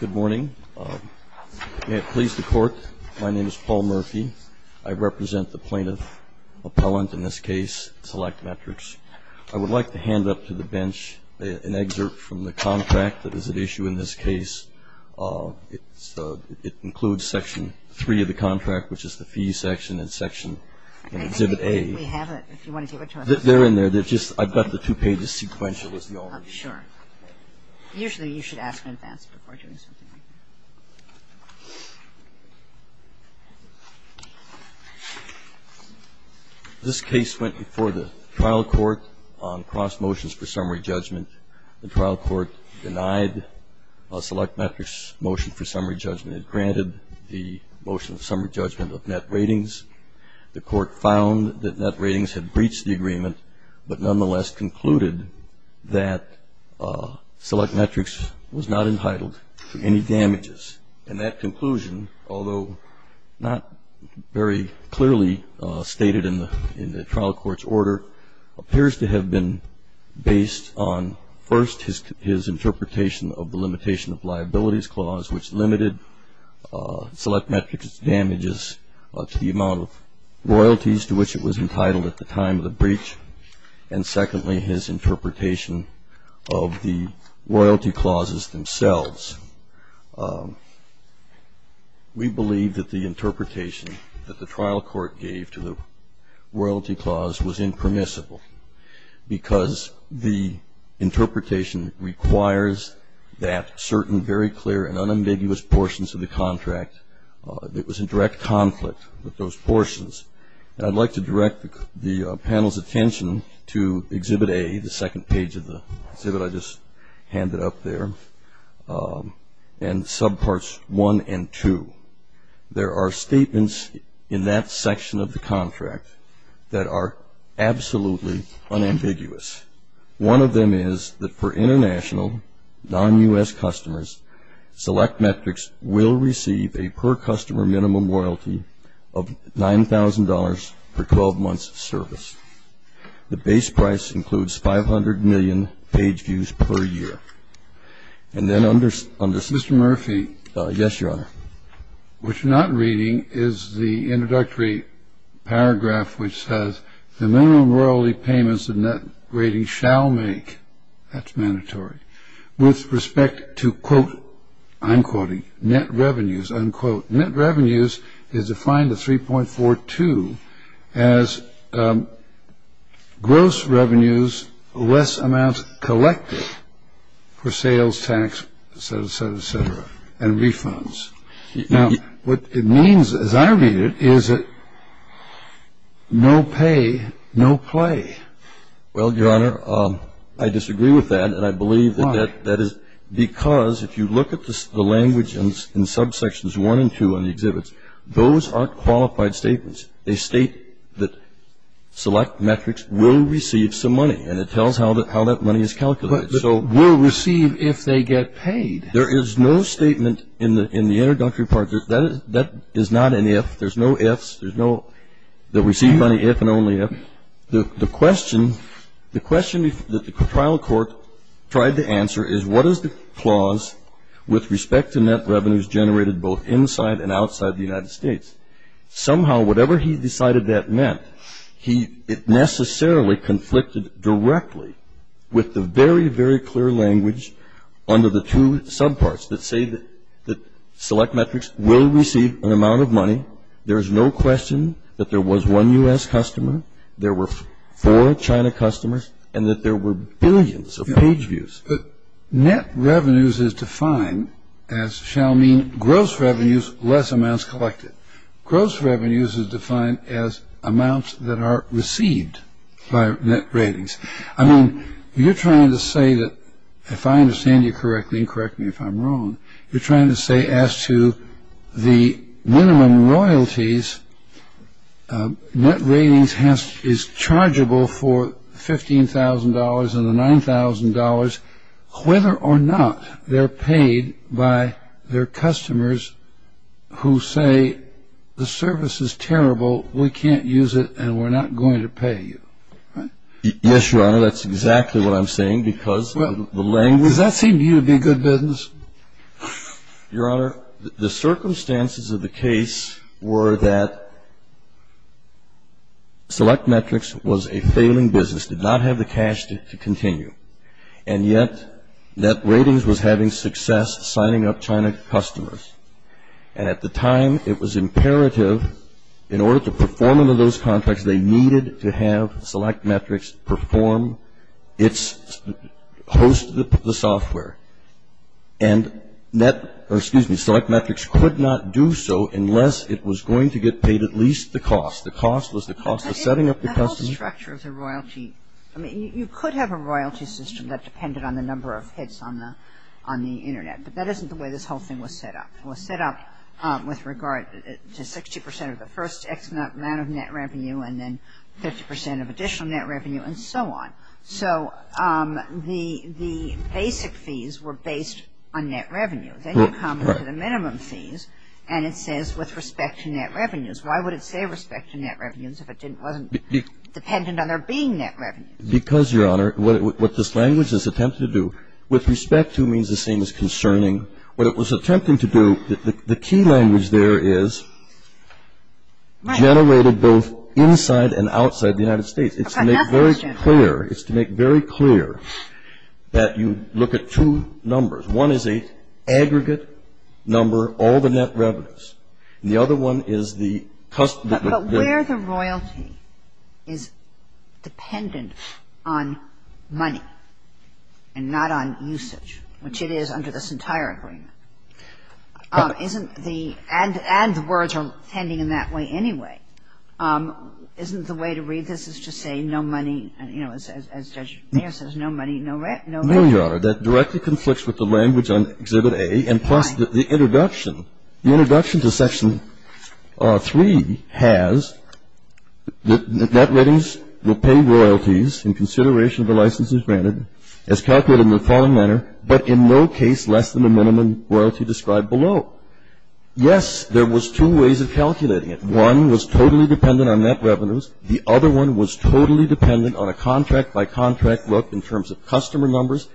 Good morning. May it please the Court, my name is Paul Murphy. I represent the plaintiff-appellant in this case, SelectMetrics. I would like to hand up to the bench an excerpt from the contract that is at issue in this case. It includes Section 3 of the contract, which is the fee section, and Section Exhibit A. I think we have it. If you want to give it to us. They're in there. I've got the two pages sequential, is the order. Sure. Usually you should ask in advance before doing something like that. This case went before the trial court on cross motions for summary judgment. The trial court denied SelectMetrics' motion for summary judgment. It granted the motion of summary judgment of NetRatings. The court found that NetRatings had breached the agreement, but nonetheless concluded that SelectMetrics was not entitled to any damages. And that conclusion, although not very clearly stated in the trial court's order, appears to have been based on first his interpretation of the limitation of liabilities clause, which limited SelectMetrics' damages to the amount of royalties to which it was entitled at the time of the breach, and secondly his interpretation of the royalty clauses themselves. We believe that the interpretation that the trial court gave to the royalty clause was impermissible because the interpretation requires that certain very clear and unambiguous portions of the contract. It was in direct conflict with those portions. And I'd like to direct the panel's attention to Exhibit A, the second page of the exhibit I just handed up there, and subparts 1 and 2. There are statements in that section of the contract that are absolutely unambiguous. One of them is that for international, non-U.S. customers, SelectMetrics will receive a per-customer minimum royalty of $9,000 per 12 months of service. The base price includes 500 million page views per year. And then under Mr. Murphy Yes, Your Honor. What you're not reading is the introductory paragraph which says, the minimum royalty payments the net rating shall make. That's mandatory. With respect to, quote, I'm quoting, net revenues, unquote. Net revenues is defined at 3.42 as gross revenues, less amounts collected for sales, tax, et cetera, et cetera, et cetera, and refunds. Now, what it means, as I read it, is no pay, no play. Well, Your Honor, I disagree with that. And I believe that that is because if you look at the language in subsections 1 and 2, in the exhibits, those are qualified statements. They state that SelectMetrics will receive some money. And it tells how that money is calculated. But will receive if they get paid. There is no statement in the introductory part. That is not an if. There's no ifs. There's no that receive money if and only if. The question that the trial court tried to answer is what is the clause with respect to net revenues generated both inside and outside the United States. Somehow, whatever he decided that meant, it necessarily conflicted directly with the very, very clear language under the two subparts that say that SelectMetrics will receive an amount of money. There is no question that there was one U.S. customer, there were four China customers, and that there were billions of page views. Net revenues is defined as shall mean gross revenues, less amounts collected. Gross revenues is defined as amounts that are received by net ratings. I mean, you're trying to say that if I understand you correctly, and correct me if I'm wrong, you're trying to say as to the minimum royalties, net ratings is chargeable for $15,000 and the $9,000, whether or not they're paid by their customers who say the service is terrible, we can't use it, and we're not going to pay you, right? Yes, Your Honor, that's exactly what I'm saying because the language Does that seem to you to be a good business? Your Honor, the circumstances of the case were that SelectMetrics was a failing business, did not have the cash to continue, and yet net ratings was having success signing up China customers. And at the time, it was imperative, in order to perform under those contracts, they needed to have SelectMetrics perform its, host the software. And net, or excuse me, SelectMetrics could not do so unless it was going to get paid at least the cost. The cost was the cost of setting up the customers. The whole structure of the royalty, I mean, you could have a royalty system that depended on the number of hits on the Internet, but that isn't the way this whole thing was set up. It was set up with regard to 60 percent of the first X amount of net revenue, and then 50 percent of additional net revenue, and so on. So the basic fees were based on net revenue. Then you come to the minimum fees, and it says with respect to net revenues. Why would it say respect to net revenues if it wasn't dependent on there being net revenue? Because, Your Honor, what this language is attempting to do, with respect to means the same as concerning, what it was attempting to do, the key language there is generated both inside and outside the United States. It's to make very clear, it's to make very clear that you look at two numbers. One is an aggregate number, all the net revenues. The other one is the customer. But where the royalty is dependent on money and not on usage, which it is under this entire agreement. Isn't the – and the words are tending in that way anyway. Isn't the way to read this is to say no money, you know, as Judge Mayer says, no money, no royalty? No, Your Honor. That directly conflicts with the language on Exhibit A. And plus the introduction. The introduction to Section 3 has that net ratings will pay royalties in consideration of the licenses granted as calculated in the following manner, but in no case less than the minimum royalty described below. Yes, there was two ways of calculating it. One was totally dependent on net revenues. The other one was totally dependent on a contract-by-contract look in terms of customer numbers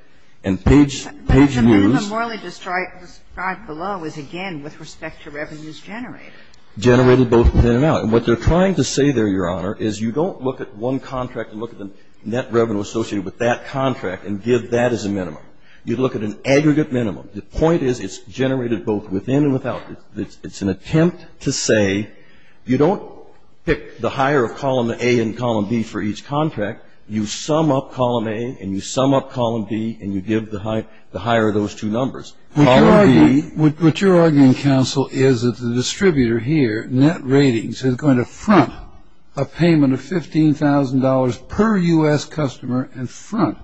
and page – page views. But the minimum royalty described below is, again, with respect to revenues generated. Generated both in and out. And what they're trying to say there, Your Honor, is you don't look at one contract and look at the net revenue associated with that contract and give that as a minimum. You look at an aggregate minimum. The point is it's generated both within and without. It's an attempt to say you don't pick the higher of Column A and Column B for each contract. You sum up Column A and you sum up Column B and you give the higher of those two numbers. What you're arguing, counsel, is that the distributor here, net ratings, is going to front a payment of $15,000 per U.S. customer and front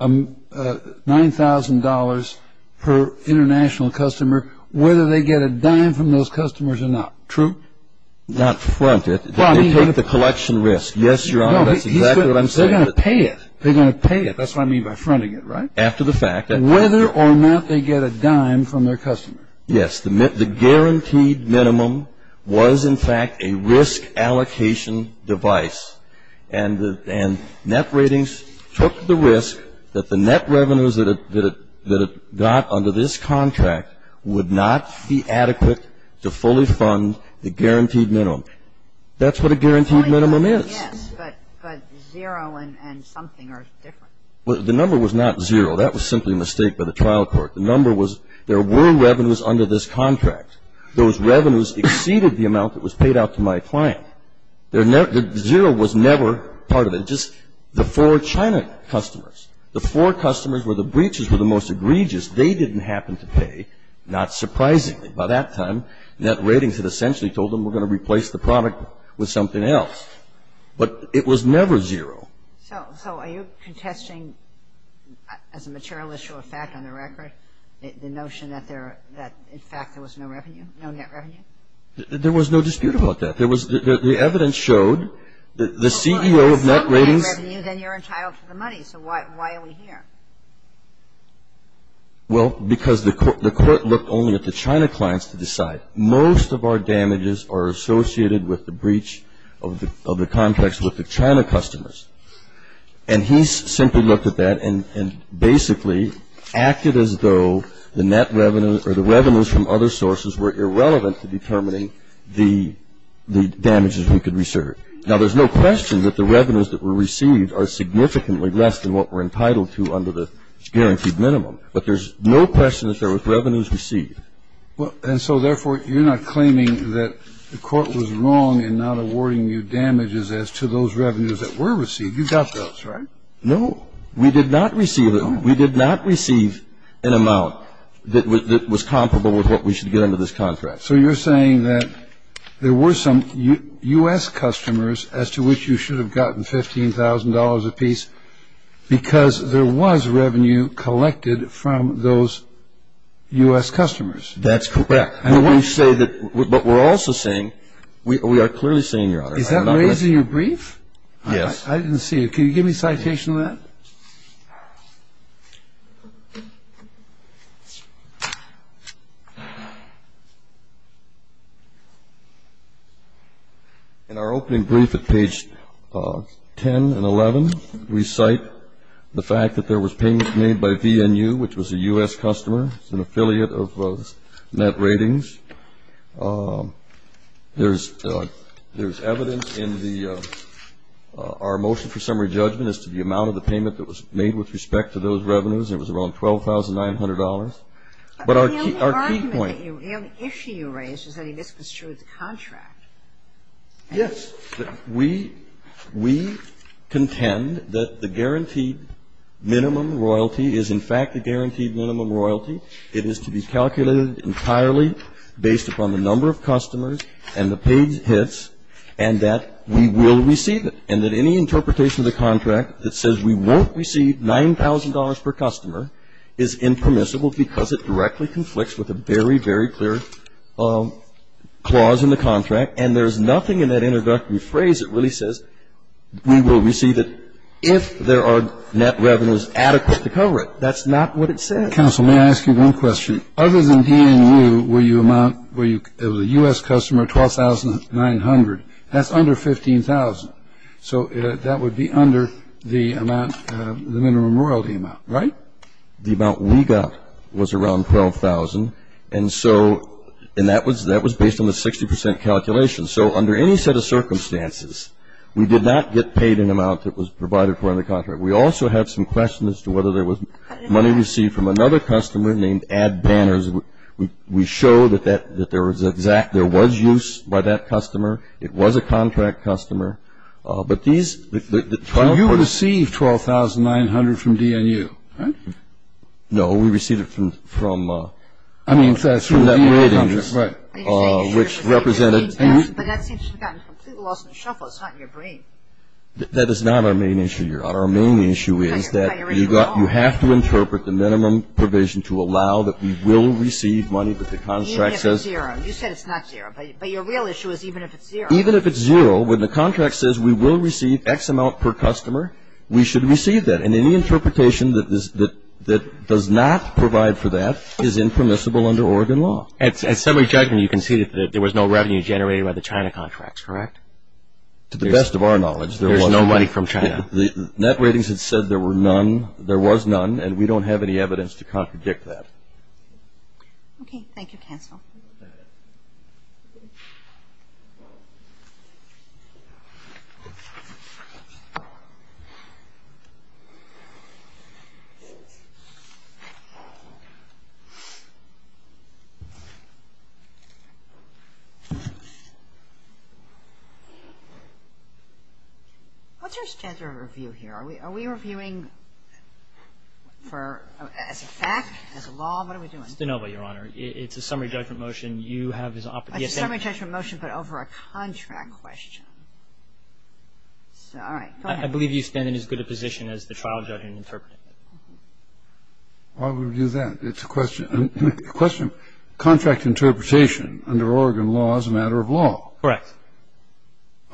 $9,000 per international customer whether they get a dime from those customers or not. True? Not front it. They take the collection risk. Yes, Your Honor, that's exactly what I'm saying. They're going to pay it. They're going to pay it. That's what I mean by fronting it, right? After the fact. Whether or not they get a dime from their customer. Yes. The guaranteed minimum was, in fact, a risk allocation device, and net ratings took the risk that the net revenues that it got under this contract would not be adequate to fully fund the guaranteed minimum. That's what a guaranteed minimum is. Yes, but zero and something are different. The number was not zero. That was simply a mistake by the trial court. The number was there were revenues under this contract. Those revenues exceeded the amount that was paid out to my client. Zero was never part of it. Just the four China customers, the four customers where the breaches were the most egregious, they didn't happen to pay, not surprisingly. By that time, net ratings had essentially told them we're going to replace the product with something else. But it was never zero. So are you contesting, as a material issue of fact on the record, the notion that in fact there was no revenue, no net revenue? There was no dispute about that. The evidence showed that the CEO of net ratings --. Well, if there's some net revenue, then you're entitled to the money. So why are we here? damages are associated with the breach of the contracts with the China customers. And he simply looked at that and basically acted as though the net revenues or the revenues from other sources were irrelevant to determining the damages we could reserve. Now, there's no question that the revenues that were received are significantly less than what we're entitled to under the guaranteed minimum. But there's no question that there was revenues received. And so, therefore, you're not claiming that the court was wrong in not awarding you damages as to those revenues that were received. You got those, right? No. We did not receive them. We did not receive an amount that was comparable with what we should get under this contract. So you're saying that there were some U.S. customers as to which you should have gotten $15,000 apiece because there was revenue collected from those U.S. customers. That's correct. But we're also saying, we are clearly saying, Your Honor. Is that raising your brief? Yes. I didn't see it. Can you give me a citation of that? In our opening brief at page 10 and 11, we cite the fact that there was payment made by VNU, which was a U.S. customer. It's an affiliate of Net Ratings. There's evidence in our motion for summary judgment as to the amount of the payment that was made to VNU. It was about $12,900. But our key point. The only argument, the only issue you raised is that this was true of the contract. Yes. We contend that the guaranteed minimum royalty is, in fact, a guaranteed minimum royalty. It is to be calculated entirely based upon the number of customers and the paid hits and that we will receive it. And that any interpretation of the contract that says we won't receive $9,000 per customer is impermissible because it directly conflicts with a very, very clear clause in the contract, and there's nothing in that introductory phrase that really says we will receive it if there are net revenues adequate to cover it. That's not what it says. Counsel, may I ask you one question? Other than VNU, the U.S. customer, $12,900, that's under $15,000. So that would be under the minimum royalty amount, right? The amount we got was around $12,000, and that was based on the 60% calculation. So under any set of circumstances, we did not get paid an amount that was provided for in the contract. We also have some questions as to whether there was money received from another customer named Ad Banners. We showed that there was use by that customer. It was a contract customer. But these 12% – You received $12,900 from DNU, right? No, we received it from – I mean, that's from the contract, right. Which represented – But that seems to have gotten completely lost in the shuffle. It's not in your brain. That is not our main issue. Our main issue is that you have to interpret the minimum provision to allow that we will receive money that the contract says – Even if it's zero. You said it's not zero. But your real issue is even if it's zero. Even if it's zero, when the contract says we will receive X amount per customer, we should receive that. And any interpretation that does not provide for that is impermissible under Oregon law. At summary judgment, you can see that there was no revenue generated by the China contracts, correct? To the best of our knowledge, there was no – There's no money from China. Net ratings had said there were none – there was none, and we don't have any evidence to contradict that. Okay. Thank you, Counsel. What's your standard of review here? Are we reviewing for – as a fact, as a law? What are we doing? It's de novo, Your Honor. It's a summary judgment motion. You have as – It's a summary judgment motion, but over a contract question. All right. Go ahead. I believe you stand in as good a position as the trial judge in interpreting it. Why would we do that? It's a question – a question. Contract interpretation under Oregon law is a matter of law. Correct.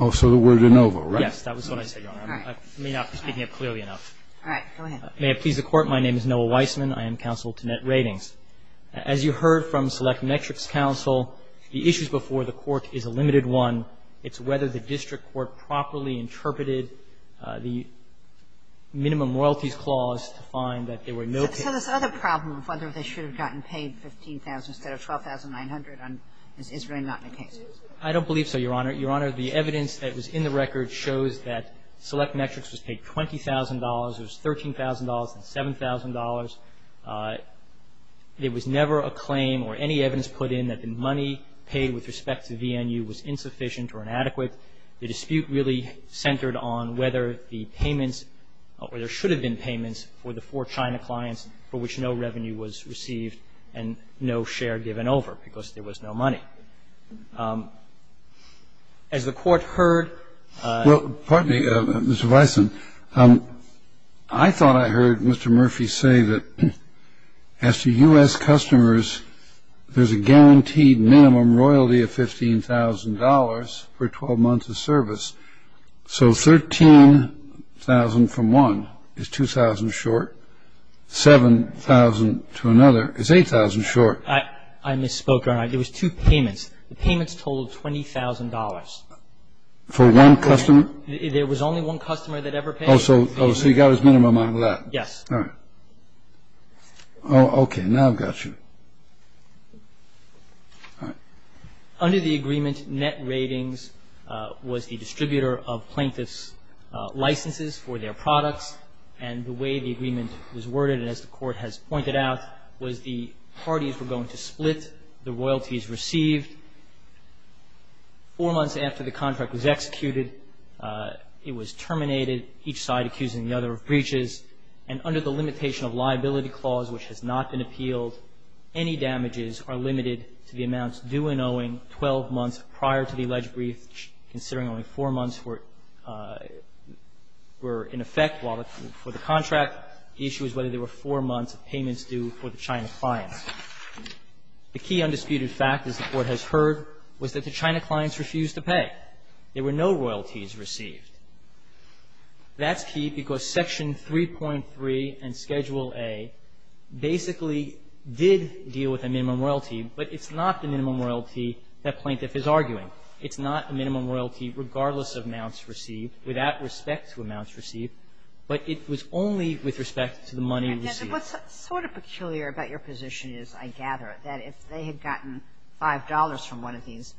Oh, so we're de novo, right? Yes. That was what I said, Your Honor. All right. I may not be speaking up clearly enough. All right. Go ahead. May it please the Court, my name is Noah Weissman. I am counsel to Net Ratings. As you heard from Select Metrics Counsel, the issues before the Court is a limited one. It's whether the district court properly interpreted the minimum royalties clause to find that there were no – So this other problem of whether they should have gotten paid 15,000 instead of 12,900 is really not the case. I don't believe so, Your Honor. Your Honor, the evidence that was in the record shows that Select Metrics was paid $20,000. It was $13,000 and $7,000. There was never a claim or any evidence put in that the money paid with respect to VNU was insufficient or inadequate. The dispute really centered on whether the payments – or there should have been payments for the four China clients for which no revenue was received and no share given over because there was no money. As the Court heard – Well, pardon me, Mr. Weissman. I thought I heard Mr. Murphy say that as to U.S. customers, there's a guaranteed minimum royalty of $15,000 for 12 months of service. So $13,000 from one is $2,000 short. $7,000 to another is $8,000 short. I misspoke, Your Honor. It was two payments. The payments totaled $20,000. For one customer? There was only one customer that ever paid. Oh, so he got his minimum on that. Yes. All right. Oh, okay. Now I've got you. All right. Under the agreement, net ratings was the distributor of plaintiff's licenses for their products. And the way the agreement was worded, and as the Court has pointed out, was the parties were going to split the royalties received. Four months after the contract was executed, it was terminated, each side accusing the other of breaches. And under the limitation of liability clause, which has not been appealed, any damages are limited to the amounts due and owing 12 months prior to the alleged breach, considering only four months were in effect for the contract. The issue is whether there were four months of payments due for the China clients. The key undisputed fact, as the Court has heard, was that the China clients refused to pay. There were no royalties received. That's key because Section 3.3 and Schedule A basically did deal with a minimum royalty, but it's not the minimum royalty that plaintiff is arguing. It's not the minimum royalty, regardless of amounts received, without respect to amounts received, but it was only with respect to the money received. What's sort of peculiar about your position is, I gather, that if they had gotten $5 from one of these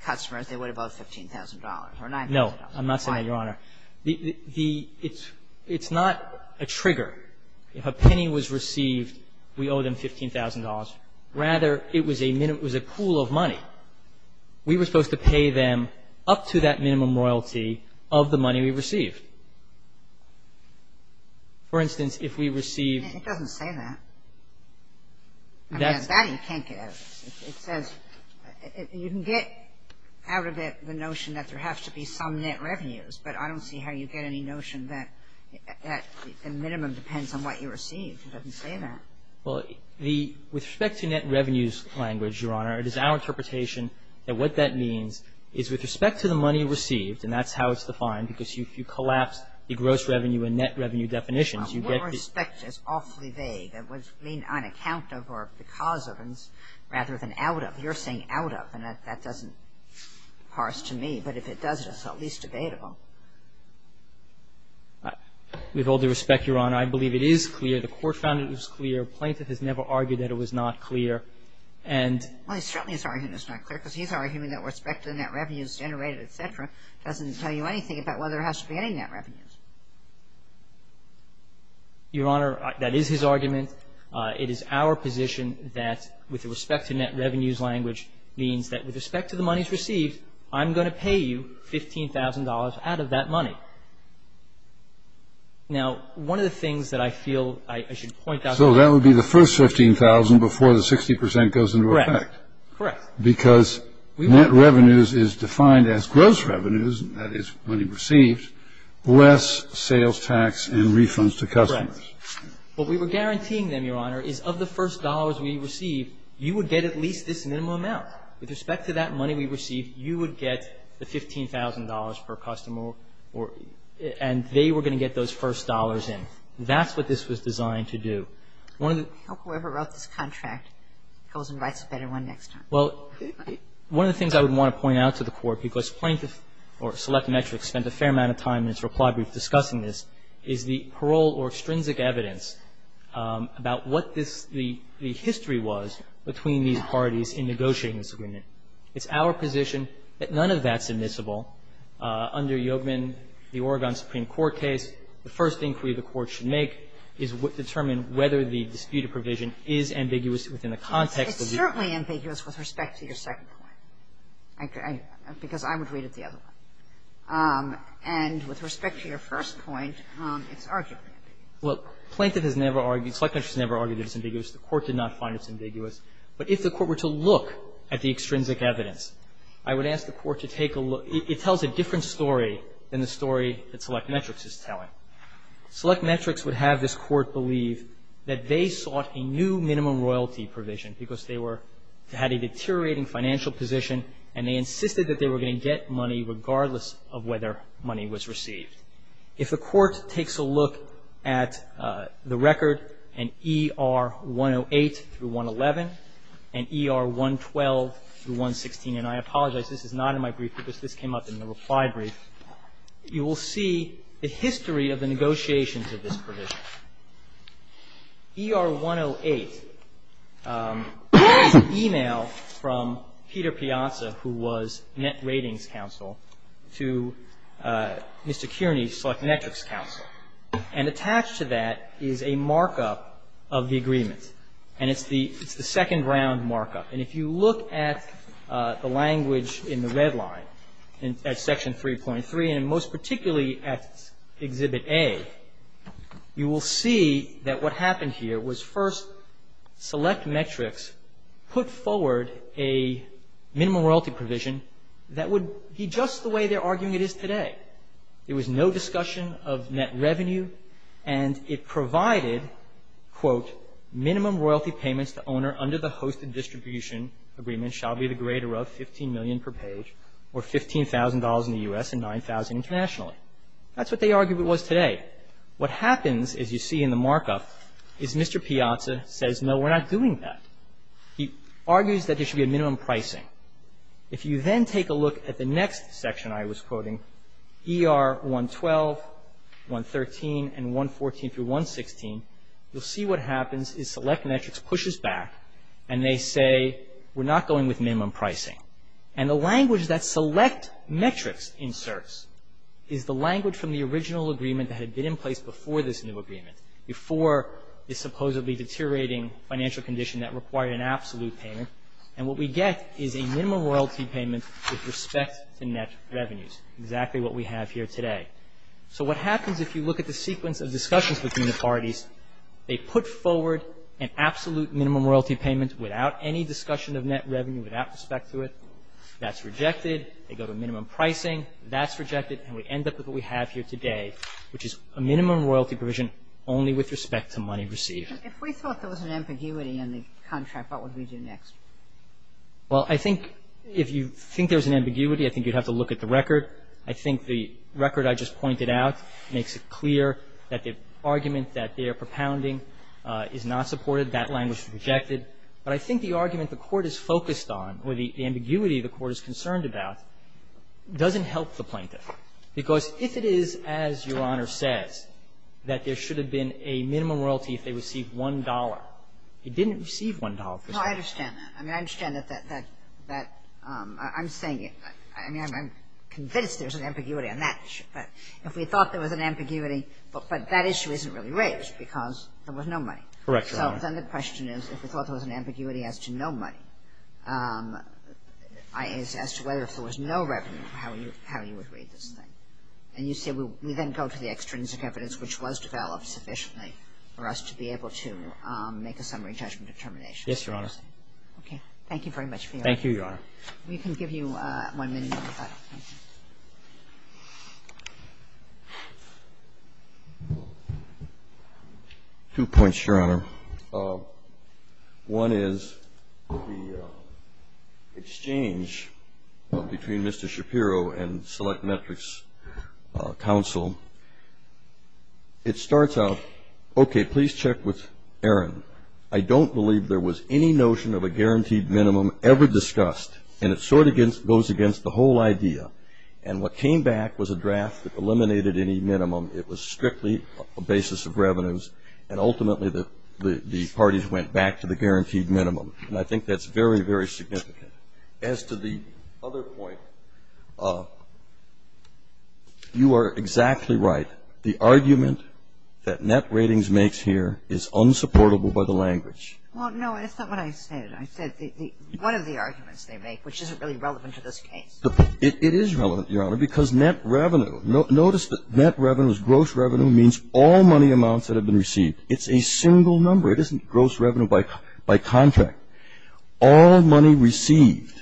customers, they would have owed $15,000 or $9,000. No. I'm not saying that, Your Honor. The — it's not a trigger. If a penny was received, we owe them $15,000. Rather, it was a pool of money. We were supposed to pay them up to that minimum royalty of the money we received. For instance, if we received — It doesn't say that. I mean, that you can't get out of this. It says — you can get out of it the notion that there has to be some net revenues, but I don't see how you get any notion that the minimum depends on what you receive. It doesn't say that. Well, the — with respect to net revenues language, Your Honor, it is our interpretation that what that means is, with respect to the money received, and that's how it's defined, because if you collapse the gross revenue and net revenue definitions, you get the — Well, with respect is awfully vague. It would mean on account of or because of, rather than out of. You're saying out of, and that doesn't parse to me. But if it does, it's at least debatable. With all due respect, Your Honor, I believe it is clear. The Court found it was clear. A plaintiff has never argued that it was not clear. And — Well, he certainly is arguing it's not clear, because he's arguing that with respect to the net revenues generated, et cetera, doesn't tell you anything about whether there has to be any net revenues. Your Honor, that is his argument. It is our position that, with respect to net revenues language, means that with respect to the monies received, I'm going to pay you $15,000 out of that money. Now, one of the things that I feel I should point out — So that would be the first $15,000 before the 60 percent goes into effect. Correct. Correct. Because net revenues is defined as gross revenues, and that is money received, less sales tax and refunds to customers. Correct. What we were guaranteeing them, Your Honor, is of the first dollars we received, you would get at least this minimum amount. With respect to that money we received, you would get the $15,000 per customer, and they were going to get those first dollars in. That's what this was designed to do. One of the — I hope whoever wrote this contract goes and writes a better one next time. Well, one of the things I would want to point out to the Court, because plaintiffs or select metrics spent a fair amount of time in its reply brief discussing this, is the parole or extrinsic evidence about what this — the history was between these parties in negotiating this agreement. It's our position that none of that's admissible. Under Yogevman, the Oregon Supreme Court case, the first inquiry the Court should make is determine whether the disputed provision is ambiguous within the context of the agreement. It's certainly ambiguous with respect to your second point, because I would read it the other way. And with respect to your first point, it's arguably ambiguous. Well, plaintiff has never argued — select metrics has never argued that it's ambiguous. The Court did not find it's ambiguous. But if the Court were to look at the extrinsic evidence, I would ask the Court to take a look. It tells a different story than the story that select metrics is telling. Select metrics would have this Court believe that they sought a new minimum royalty provision because they were — had a deteriorating financial position and they insisted that they were going to get money regardless of whether money was received. If the Court takes a look at the record in ER 108 through 111 and ER 112 through 116 — and I apologize, this is not in my brief because this came up in the reply brief — you will see the history of the negotiations of this provision. ER 108 is an e-mail from Peter Piazza, who was Net Ratings Counsel, to Mr. Kearney, Select Metrics Counsel. And attached to that is a markup of the agreement. And it's the second-round markup. And if you look at the language in the red line at Section 3.3, and most particularly at Exhibit A, you will see that what happened here was first Select Metrics put forward a minimum royalty provision that would be just the way they're arguing it is today. There was no discussion of net revenue. And it provided, quote, minimum royalty payments to owner under the hosted distribution agreement shall be the greater of $15 million per page, or $15,000 in the U.S. and $9,000 internationally. That's what they argued it was today. What happens, as you see in the markup, is Mr. Piazza says, no, we're not doing that. He argues that there should be a minimum pricing. If you then take a look at the next section I was quoting, ER 112, 113, and 114 through 116, you'll see what happens is Select Metrics pushes back and they say, we're not going with minimum pricing. And the language that Select Metrics inserts is the language from the original agreement that had been in place before this new agreement, before this supposedly deteriorating financial condition that required an absolute payment, and what we get is a minimum royalty payment with respect to net revenues, exactly what we have here today. So what happens if you look at the sequence of discussions between the parties, they put forward an absolute minimum royalty payment without any discussion of net revenue, without respect to it. That's rejected. They go to minimum pricing. That's rejected, and we end up with what we have here today, which is a minimum royalty provision only with respect to money received. If we thought there was an ambiguity in the contract, what would we do next? Well, I think if you think there's an ambiguity, I think you'd have to look at the record. I think the record I just pointed out makes it clear that the argument that they're propounding is not supported. That language is rejected. But I think the argument the Court is focused on, or the ambiguity the Court is concerned about, doesn't help the plaintiff. Because if it is, as Your Honor says, that there should have been a minimum royalty if they received $1.00, it didn't receive $1.00. No, I understand that. I mean, I understand that that that I'm saying it. I mean, I'm convinced there's an ambiguity on that issue. But if we thought there was an ambiguity, but that issue isn't really raised because there was no money. Correct, Your Honor. So then the question is, if we thought there was an ambiguity as to no money, as to whether if there was no revenue, how you would read this thing. And you say we then go to the extrinsic evidence, which was developed sufficiently for us to be able to make a summary judgment of termination. Yes, Your Honor. Okay. Thank you very much for your time. Thank you, Your Honor. We can give you one minute. Two points, Your Honor. One is the exchange between Mr. Shapiro and Select Metrics Council. It starts out, okay, please check with Aaron. I don't believe there was any notion of a guaranteed minimum ever discussed, and what came back was a draft that eliminated any minimum. It was strictly a basis of revenues, and ultimately the parties went back to the guaranteed minimum, and I think that's very, very significant. As to the other point, you are exactly right. The argument that Net Ratings makes here is unsupportable by the language. Well, no, that's not what I said. I said one of the arguments they make, which isn't really relevant to this case. It is relevant, Your Honor, because net revenue. Notice that net revenue is gross revenue means all money amounts that have been received. It's a single number. It isn't gross revenue by contract. All money received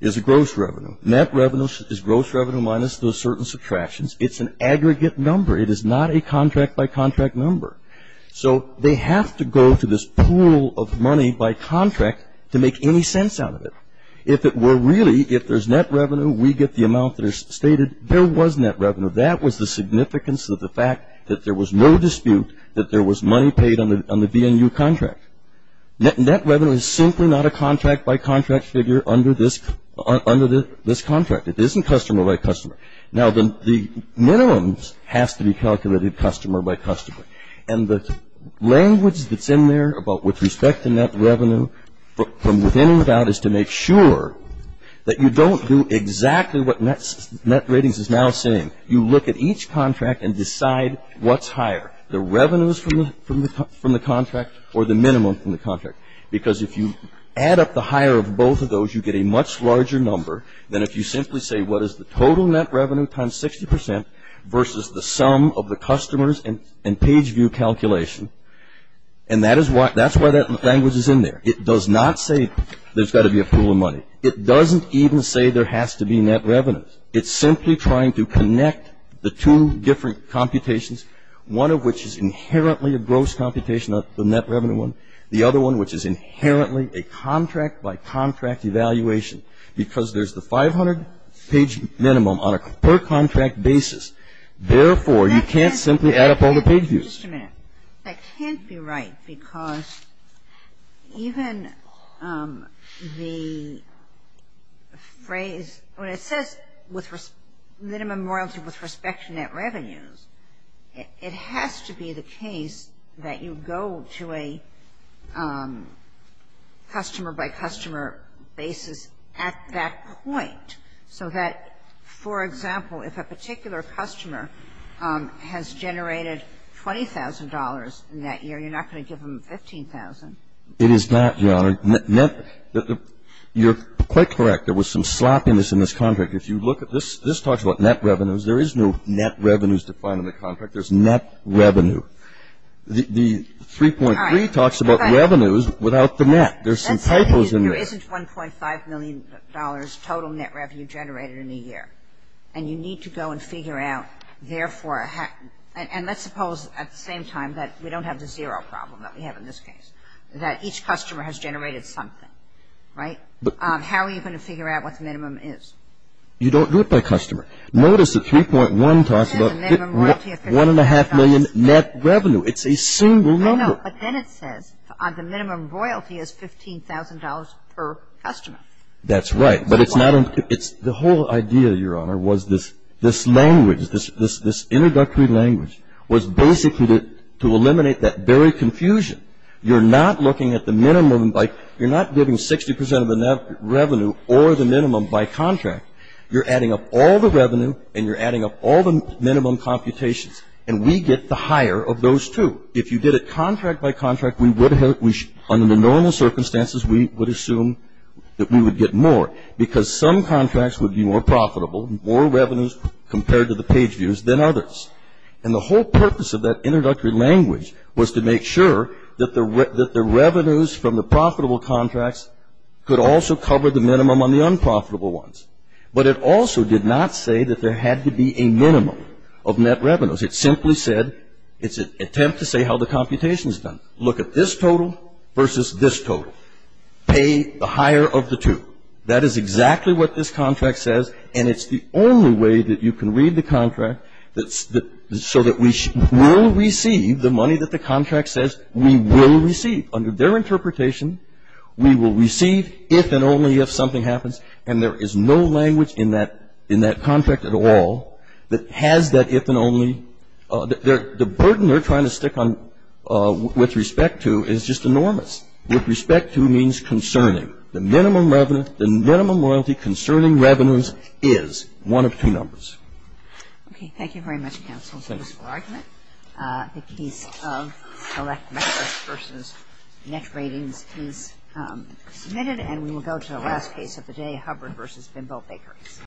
is a gross revenue. Net revenue is gross revenue minus those certain subtractions. It's an aggregate number. It is not a contract-by-contract number. So they have to go to this pool of money by contract to make any sense out of it. If it were really, if there's net revenue, we get the amount that is stated. There was net revenue. That was the significance of the fact that there was no dispute that there was money paid on the VNU contract. Net revenue is simply not a contract-by-contract figure under this contract. It isn't customer-by-customer. Now, the minimums has to be calculated customer-by-customer, and the language that's in there about with respect to net revenue from within and without is to make sure that you don't do exactly what net ratings is now saying. You look at each contract and decide what's higher, the revenues from the contract or the minimum from the contract, because if you add up the higher of both of those, you get a much larger number than if you simply say, what is the total net revenue times 60 percent versus the sum of the customers and page view calculation? And that is why that language is in there. It does not say there's got to be a pool of money. It doesn't even say there has to be net revenues. It's simply trying to connect the two different computations, one of which is inherently a gross computation of the net revenue one, the other one which is inherently a contract-by-contract evaluation, because there's the 500-page minimum on a per-contract basis. Therefore, you can't simply add up all the page views. Just a minute. That can't be right, because even the phrase, when it says minimum royalty with respect to net revenues, it has to be the case that you go to a customer-by-customer basis at that point, so that, for example, if a particular customer has generated $20,000 in that year, you're not going to give them $15,000. It is not, Your Honor. You're quite correct. There was some sloppiness in this contract. If you look at this, this talks about net revenues. There is no net revenues defined in the contract. There's net revenue. The 3.3 talks about revenues without the net. There's some typos in there. There isn't $1.5 million total net revenue generated in a year. And you need to go and figure out, therefore, and let's suppose at the same time that we don't have the zero problem that we have in this case, that each customer has generated something, right? How are you going to figure out what the minimum is? You don't do it by customer. Notice the 3.1 talks about 1.5 million net revenue. It's a single number. But then it says the minimum royalty is $15,000 per customer. That's right. But it's not the whole idea, Your Honor, was this language, this introductory language was basically to eliminate that very confusion. You're not looking at the minimum by you're not giving 60 percent of the net revenue or the minimum by contract. You're adding up all the revenue and you're adding up all the minimum computations, and we get the higher of those two. If you did it contract by contract, under the normal circumstances, we would assume that we would get more because some contracts would be more profitable, more revenues compared to the page views than others. And the whole purpose of that introductory language was to make sure that the revenues from the profitable contracts could also cover the minimum on the unprofitable ones. But it also did not say that there had to be a minimum of net revenues. It simply said it's an attempt to say how the computation is done. Look at this total versus this total. Pay the higher of the two. That is exactly what this contract says, and it's the only way that you can read the contract so that we will receive the money that the contract says we will receive. Under their interpretation, we will receive if and only if something happens, and there is no language in that contract at all that has that if and only. The burden they're trying to stick on with respect to is just enormous. With respect to means concerning. The minimum revenue, the minimum royalty concerning revenues is one of two numbers. Okay. Thank you very much, counsel. Thank you. The case of Select Metrics versus Net Ratings is submitted, and we will go to the last case of the day, Hubbard versus Bimbo Bakery.